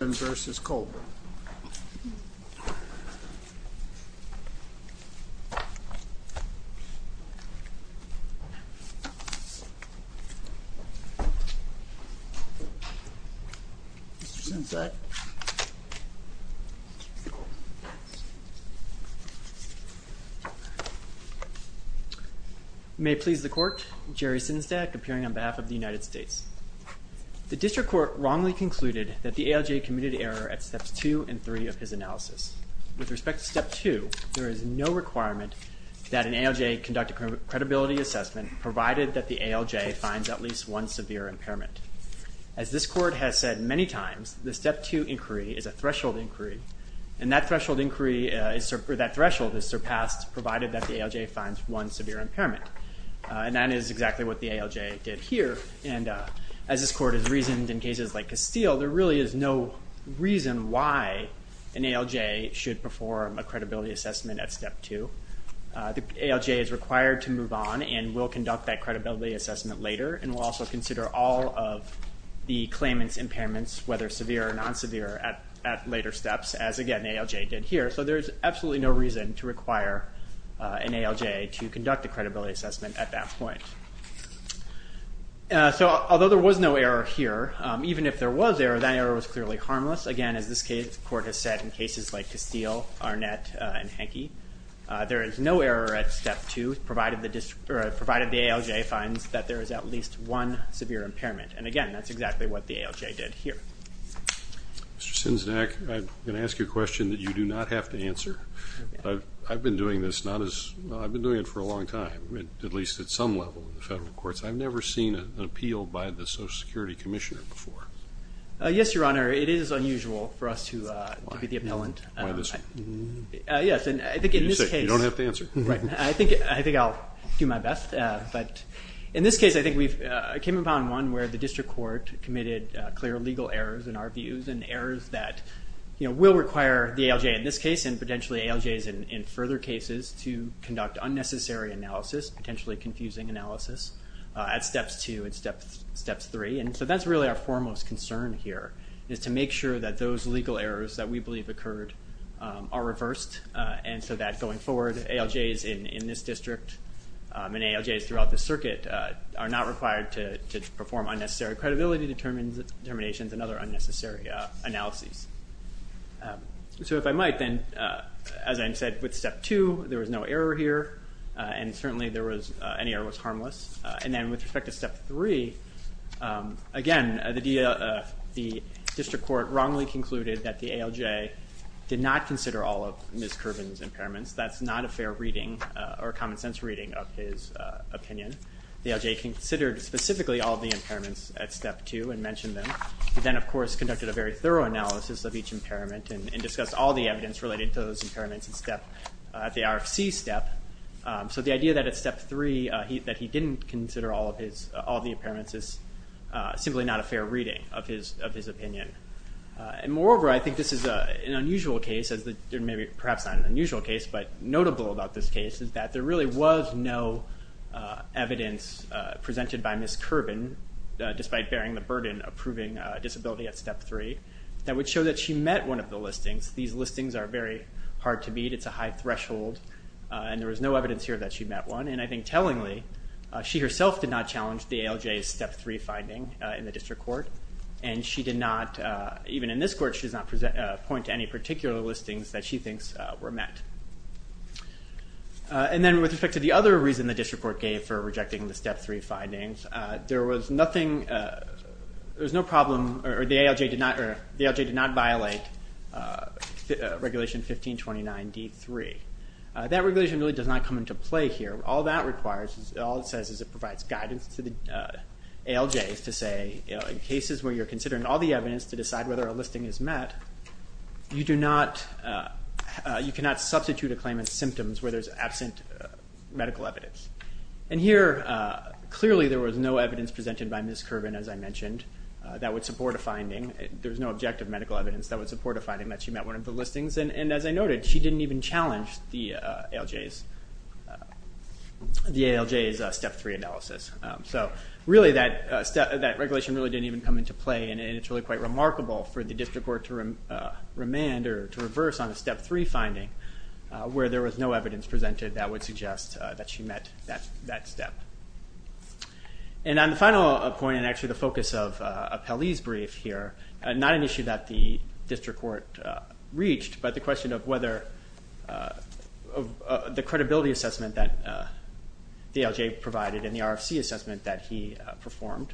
Mr. Sinzak. May it please the court, Jerry Sinzak, appearing on behalf of the United States. The district court wrongly concluded that the ALJ committed error at steps two and three of his analysis. With respect to step two, there is no requirement that an ALJ conduct a credibility assessment provided that the ALJ finds at least one severe impairment. As this court has said many times, the step two inquiry is a threshold inquiry, and that threshold inquiry, or that threshold is surpassed provided that the ALJ finds one severe impairment. And that is exactly what the ALJ did here, and as this court has reasoned in cases like Castile, there really is no reason why an ALJ should perform a credibility assessment at step two. The ALJ is required to move on and will conduct that credibility assessment later, and will also consider all of the claimants' impairments, whether severe or non-severe, at later steps, as again, the ALJ did here. So there is absolutely no reason to require an ALJ to conduct a credibility assessment at that point. So although there was no error here, even if there was error, that error was clearly harmless. Again, as this court has said in cases like Castile, Arnett, and Henke, there is no error at step two, provided the ALJ finds that there is at least one severe impairment. And again, that's exactly what the ALJ did here. Mr. Sinsnack, I'm going to ask you a question that you do not have to answer. I've been doing this not as, well, I've been doing it for a long time, at least at some level in the federal courts. I've never seen an appeal by the Social Security Commissioner before. Yes, Your Honor, it is unusual for us to be the appellant. Why this one? Yes, and I think in this case... You don't have to answer. Right. I think I'll do my best, but in this case, I think we've, it came upon one where the and our views, and errors that will require the ALJ in this case, and potentially ALJs in further cases to conduct unnecessary analysis, potentially confusing analysis, at steps two and steps three. And so that's really our foremost concern here, is to make sure that those legal errors that we believe occurred are reversed, and so that going forward, ALJs in this district and ALJs throughout this circuit are not required to perform unnecessary credibility determinations and other unnecessary analyses. So if I might, then, as I said, with step two, there was no error here, and certainly there was, any error was harmless. And then with respect to step three, again, the district court wrongly concluded that the ALJ did not consider all of Ms. Kerbin's impairments. That's not a fair reading, or a common sense reading of his opinion. The ALJ considered specifically all of the impairments at step two, and mentioned them, but then of course conducted a very thorough analysis of each impairment, and discussed all the evidence related to those impairments at step, at the RFC step. So the idea that at step three, that he didn't consider all of his, all of the impairments is simply not a fair reading of his, of his opinion. And moreover, I think this is an unusual case, as the, maybe, perhaps not an unusual case, but notable about this case, is that there really was no evidence presented by Ms. Kerbin, despite bearing the burden of proving a disability at step three, that would show that she met one of the listings. These listings are very hard to beat, it's a high threshold, and there was no evidence here that she met one. And I think tellingly, she herself did not challenge the ALJ's step three finding in the district court, and she did not, even in this court, she does not present, point to any particular listings that she thinks were met. And then with respect to the other reason the district court gave for rejecting the step three findings, there was nothing, there was no problem, or the ALJ did not, or the ALJ did not violate regulation 1529 D3. That regulation really does not come into play here, all that requires, all it says is it provides guidance to the ALJs to say, in cases where you're considering all the you do not, you cannot substitute a claim in symptoms where there's absent medical evidence. And here, clearly there was no evidence presented by Ms. Kerbin, as I mentioned, that would support a finding, there was no objective medical evidence that would support a finding that she met one of the listings, and as I noted, she didn't even challenge the ALJs, the ALJ's step three analysis. So really that regulation really didn't even come into play, and it's really quite remarkable for the district court to remand, or to reverse on a step three finding, where there was no evidence presented that would suggest that she met that step. And on the final point, and actually the focus of Pelley's brief here, not an issue that the district court reached, but the question of whether the credibility assessment that the ALJ provided, and the RFC assessment that he performed,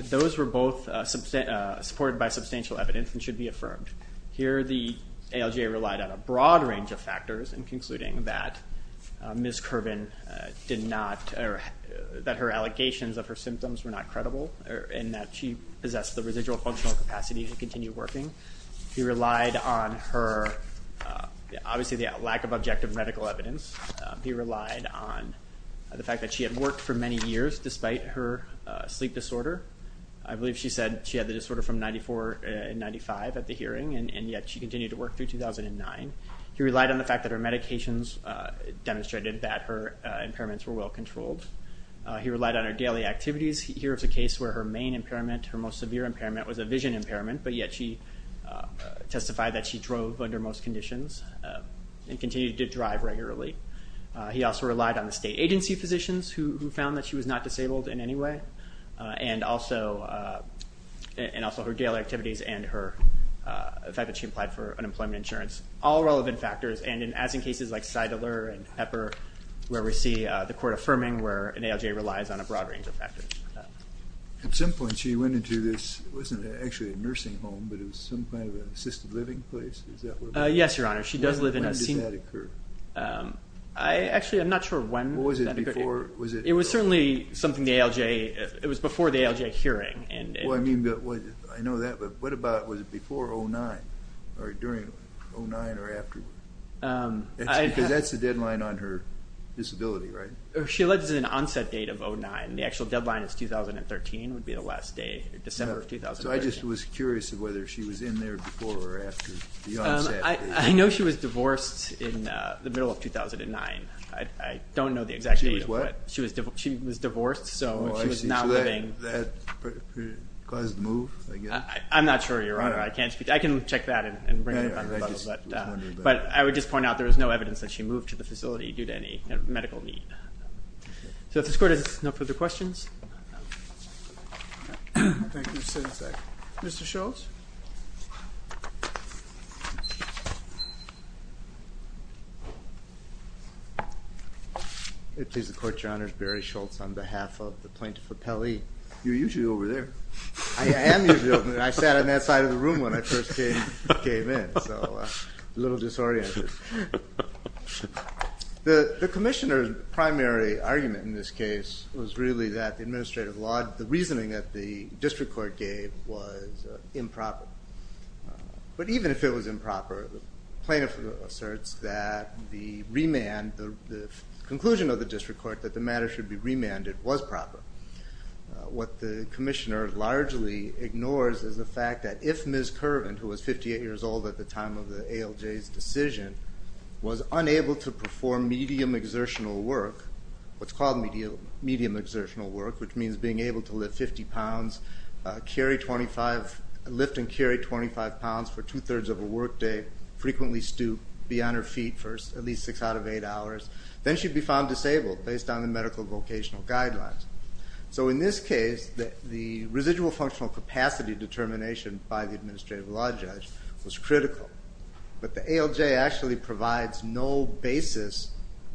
those were both supported by substantial evidence and should be affirmed. Here the ALJ relied on a broad range of factors in concluding that Ms. Kerbin did not, or that her allegations of her symptoms were not credible, and that she possessed the residual functional capacity to continue working. He relied on her, obviously the lack of objective medical evidence, he relied on the fact that she had worked for many years despite her sleep disorder. I believe she said she had the disorder from 94 and 95 at the hearing, and yet she continued to work through 2009. He relied on the fact that her medications demonstrated that her impairments were well controlled. He relied on her daily activities, here it's a case where her main impairment, her most severe impairment, was a vision impairment, but yet she testified that she drove under most conditions, and continued to drive regularly. He also relied on the state agency physicians who found that she was not disabled in any way, and also her daily activities and the fact that she applied for unemployment insurance. All relevant factors, and as in cases like Seidler and Pepper, where we see the court affirming where an ALJ relies on a broad range of factors. At some point she went into this, it wasn't actually a nursing home, but it was some kind of assisted living place, is that what it was? Yes, Your Honor, she does live in a senior... When did that occur? I actually, I'm not sure when that occurred. It was certainly something the ALJ, it was before the ALJ hearing. Well I mean, I know that, but what about, was it before 2009, or during 2009, or afterward? Because that's the deadline on her disability, right? She alleges an onset date of 2009, the actual deadline is 2013, would be the last day, December of 2013. So I just was curious of whether she was in there before or after the onset date. I know she was divorced in the middle of 2009. I don't know the exact date. She was what? She was divorced, so she was not living... Oh, I see, so that caused the move, I guess? I'm not sure, Your Honor, I can't speak to, I can check that and bring it up on the level, but I would just point out there is no evidence that she moved to the facility due to any medical need. So if this court has no further questions... Thank you, Senator Seidler. Mr. Schultz? If it pleases the Court, Your Honors, Barry Schultz on behalf of the Plaintiff Appellee. You're usually over there. I am usually over there. I sat on that side of the room when I first came in, so a little disoriented. The Commissioner's primary argument in this case was really that the administrative law, the reasoning that the District Court gave was improper. But even if it was improper, the plaintiff asserts that the remand, the conclusion of the District Court that the matter should be remanded was proper. What the Commissioner largely ignores is the fact that if Ms. Curvin, who was 58 years old at the time of the ALJ's decision, was unable to perform medium exertional work, what's called medium exertional work, which means being able to lift 50 pounds, lift and carry 25 pounds for two-thirds of a work day, frequently stoop, be on her feet for at least six out of eight hours, then she'd be found disabled based on the medical vocational guidelines. So in this case, the residual functional capacity determination by the administrative law judge was critical. But the ALJ actually provides no basis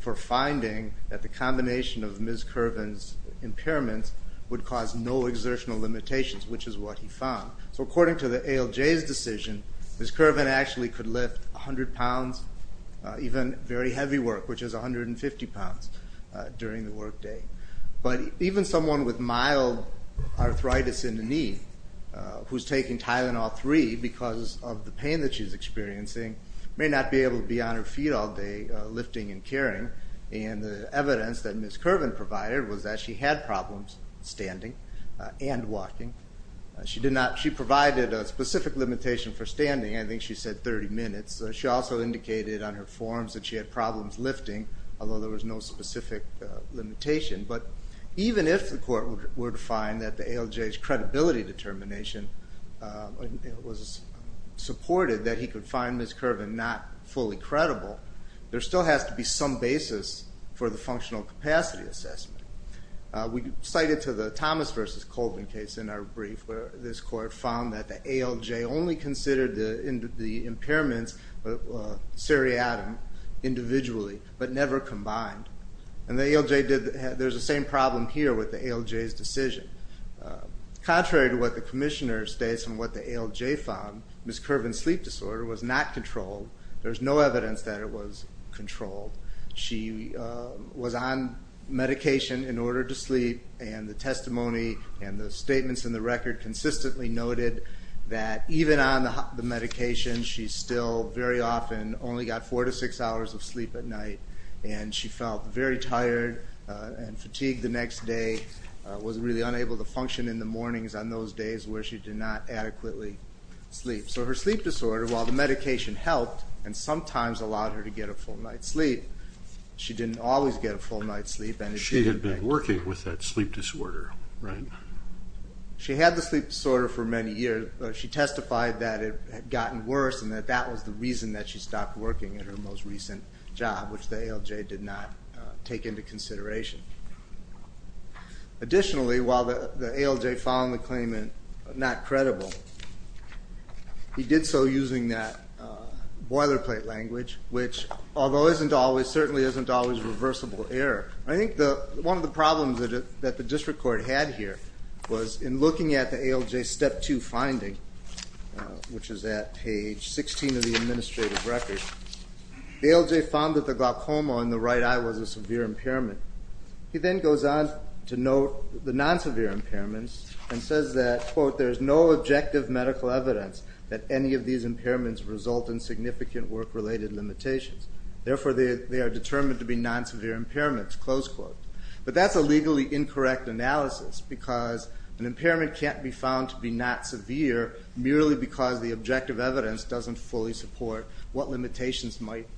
for finding that the combination of Ms. Curvin's impairments would cause no exertional limitations, which is what he found. So according to the ALJ's decision, Ms. Curvin actually could lift 100 pounds, even very heavy work, which is 150 pounds during the work day. But even someone with mild arthritis in the knee, who's taking Tylenol-3 because of the pain she's experiencing, may not be able to be on her feet all day lifting and carrying. And the evidence that Ms. Curvin provided was that she had problems standing and walking. She provided a specific limitation for standing, I think she said 30 minutes. She also indicated on her forms that she had problems lifting, although there was no specific limitation. But even if the court were to find that the ALJ's credibility determination was supported that he could find Ms. Curvin not fully credible, there still has to be some basis for the functional capacity assessment. We cite it to the Thomas versus Colvin case in our brief, where this court found that the ALJ only considered the impairments seriatim individually, but never combined. And the ALJ did, there's the same problem here with the ALJ's decision. Contrary to what the commissioner states and what the ALJ found, Ms. Curvin's sleep disorder was not controlled. There's no evidence that it was controlled. She was on medication in order to sleep, and the testimony and the statements in the record consistently noted that even on the medication, she still very often only got four to six hours of sleep at night. And she felt very tired and fatigued the next day, was really unable to function in the mornings on those days where she did not adequately sleep. So her sleep disorder, while the medication helped and sometimes allowed her to get a full night's sleep, she didn't always get a full night's sleep. She had been working with that sleep disorder, right? She had the sleep disorder for many years. She testified that it had gotten worse and that that was the reason that she stopped working at her most recent job, which the ALJ did not take into consideration. Additionally, while the ALJ found the claimant not credible, he did so using that boilerplate language, which although isn't always, certainly isn't always reversible error. I think one of the problems that the district court had here was in looking at the ALJ step two finding, which is at page 16 of the administrative record, the ALJ found that the glaucoma in the right eye was a severe impairment. He then goes on to note the non-severe impairments and says that, quote, there's no objective medical evidence that any of these impairments result in significant work-related limitations. Therefore they are determined to be non-severe impairments, close quote. But that's a legally incorrect analysis because an impairment can't be found to be not severe merely because the objective evidence doesn't fully support what limitations might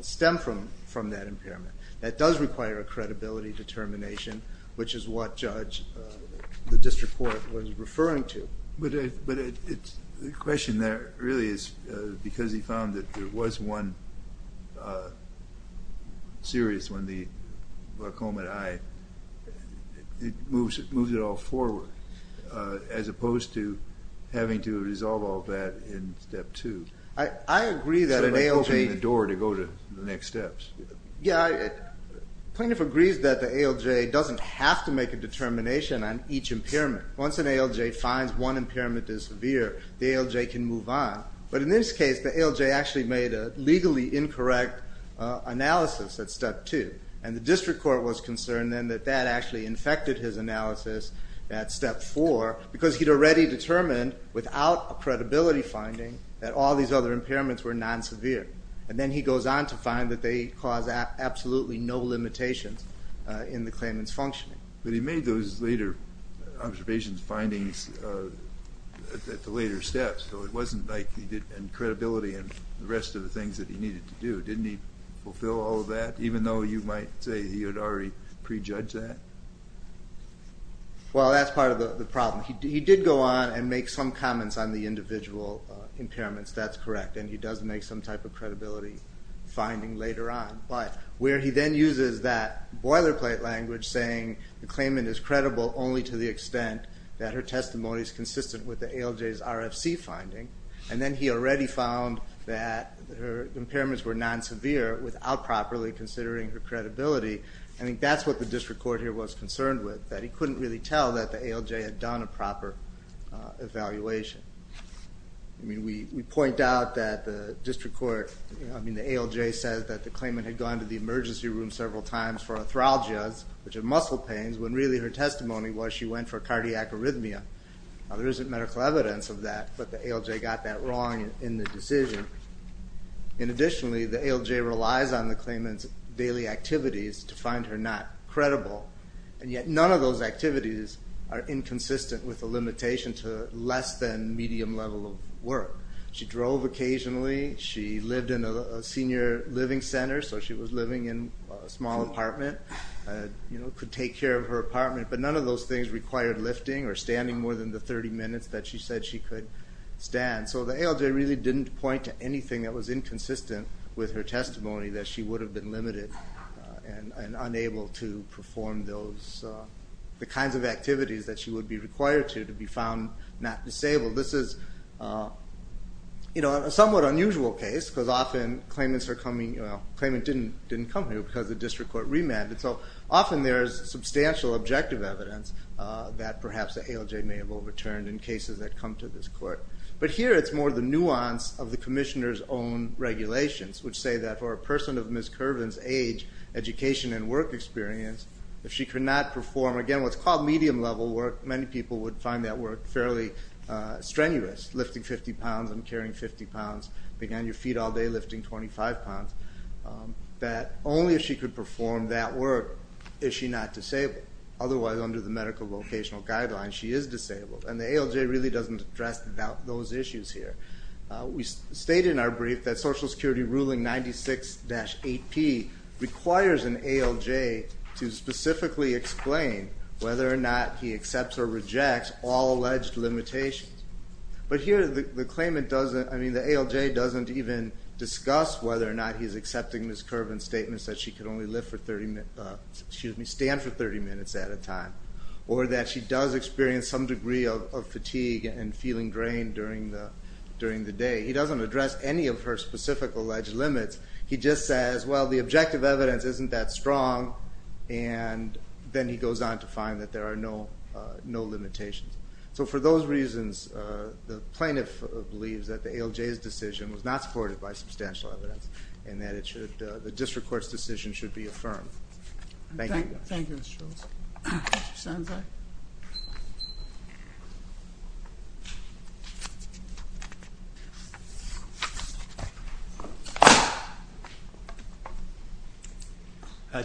stem from that impairment. That does require a credibility determination, which is what judge, the district court was referring to. But the question there really is because he found that there was one serious one, the glaucoma in the eye, it moves it all forward as opposed to having to resolve all that in step two. I agree that an ALJ... So it opens the door to go to the next steps. Yeah, plaintiff agrees that the ALJ doesn't have to make a determination on each impairment. Once an ALJ finds one impairment is severe, the ALJ can move on. But in this case, the ALJ actually made a legally incorrect analysis at step two. And the district court was concerned then that that actually infected his analysis at step four because he'd already determined without a credibility finding that all these other impairments were non-severe. And then he goes on to find that they cause absolutely no limitations in the claimant's functioning. But he made those later observations, findings at the later steps, so it wasn't like he didn't have credibility in the rest of the things that he needed to do. Didn't he fulfill all of that, even though you might say he had already prejudged that? Well, that's part of the problem. He did go on and make some comments on the individual impairments, that's correct, and he does make some type of credibility finding later on. But where he then uses that boilerplate language saying the claimant is credible only to the extent that her testimony is consistent with the ALJ's RFC finding, and then he already found that her impairments were non-severe without properly considering her credibility, I think that's what the district court here was concerned with, that he couldn't really tell that the ALJ had done a proper evaluation. I mean, we point out that the district court, I mean, the ALJ says that the claimant had gone to the emergency room several times for arthralgias, which are muscle pains, when really her testimony was she went for cardiac arrhythmia. Now, there isn't medical evidence of that, but the ALJ got that wrong in the decision. And additionally, the ALJ relies on the claimant's daily activities to find her not credible, and yet none of those activities are inconsistent with the limitation to less than medium level of work. She drove occasionally, she lived in a senior living center, so she was living in a small apartment, could take care of her apartment, but none of those things required lifting or standing more than the 30 minutes that she said she could stand. So the ALJ really didn't point to anything that was inconsistent with her testimony that she would have been limited and unable to perform those, the kinds of activities that she would be required to, to be found not disabled. This is, you know, a somewhat unusual case, because often claimants are coming, well, claimant didn't come here because the district court remanded, so often there is substantial objective evidence that perhaps the ALJ may have overturned in cases that come to this court. But here it's more the nuance of the commissioner's own regulations, which say that for a person of Ms. Kervin's age, education and work experience, if she could not perform, again, what's called medium level work, many people would find that work fairly strenuous, lifting 50 pounds and carrying 50 pounds, being on your feet all day lifting 25 pounds, that only if she could perform that work is she not disabled, otherwise under the medical vocational guidelines she is disabled, and the ALJ really doesn't address those issues here. We state in our brief that Social Security Ruling 96-8P requires an ALJ to specifically explain whether or not he accepts or rejects all alleged limitations. But here the claimant doesn't, I mean, the ALJ doesn't even discuss whether or not he's accepting Ms. Kervin's statements that she can only live for 30, excuse me, stand for 30 minutes at a time, or that she does experience some degree of fatigue and feeling drained during the day. He doesn't address any of her specific alleged limits, he just says, well, the objective evidence isn't that strong, and then he goes on to find that there are no limitations. So for those reasons, the plaintiff believes that the ALJ's decision was not supported by substantial evidence, and that the district court's decision should be affirmed. Thank you. Thank you, Mr. Charles. Mr. Sanza?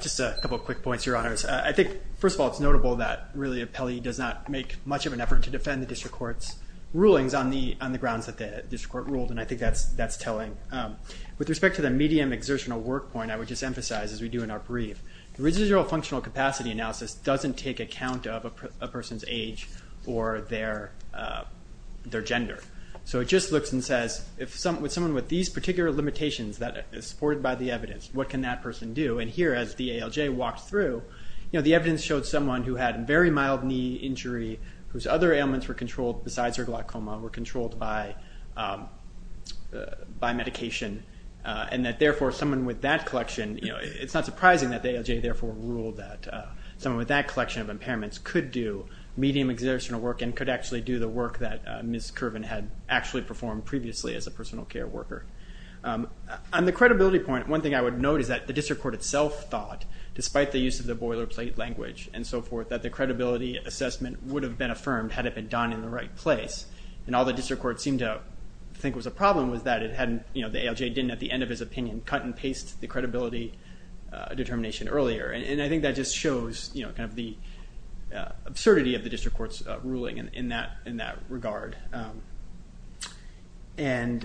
Just a couple of quick points, Your Honors. I think, first of all, it's notable that, really, Appellee does not make much of an effort to defend the district court's rulings on the grounds that the district court ruled, and I think that's telling. With respect to the medium exertional work point, I would just emphasize, as we do in our brief, the residual functional capacity analysis doesn't take account of a person's age or their gender. So it just looks and says, with someone with these particular limitations that is supported by the evidence, what can that person do? And here, as the ALJ walked through, the evidence showed someone who had a very mild knee injury, whose other ailments were controlled besides her glaucoma, were controlled by medication, and that, therefore, someone with that collection, it's not surprising that the ALJ therefore ruled that someone with that collection of impairments could do medium exertional work and could actually do the work that Ms. Kerven had actually performed previously as a personal care worker. On the credibility point, one thing I would note is that the district court itself thought, despite the use of the boilerplate language and so forth, that the credibility assessment would have been affirmed had it been done in the right place, and all the district courts seemed to think was a problem was that the ALJ didn't, at the end of his opinion, cut and paste the credibility determination earlier, and I think that just shows the absurdity of the district court's ruling in that regard. And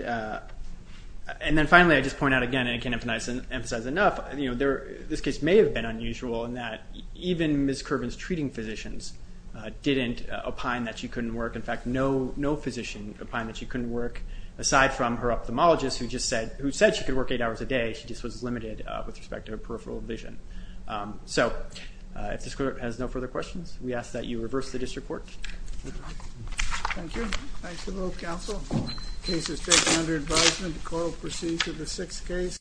then finally, I just point out again, and I can't emphasize enough, this case may have been unusual in that even Ms. Kerven's treating physicians didn't opine that she couldn't work, aside from her ophthalmologist, who said she could work eight hours a day, she just was limited with respect to her peripheral vision. So if this court has no further questions, we ask that you reverse the district court. Thank you. Thanks to both counsel. The case is taken under advisement. The court will proceed to the sixth case.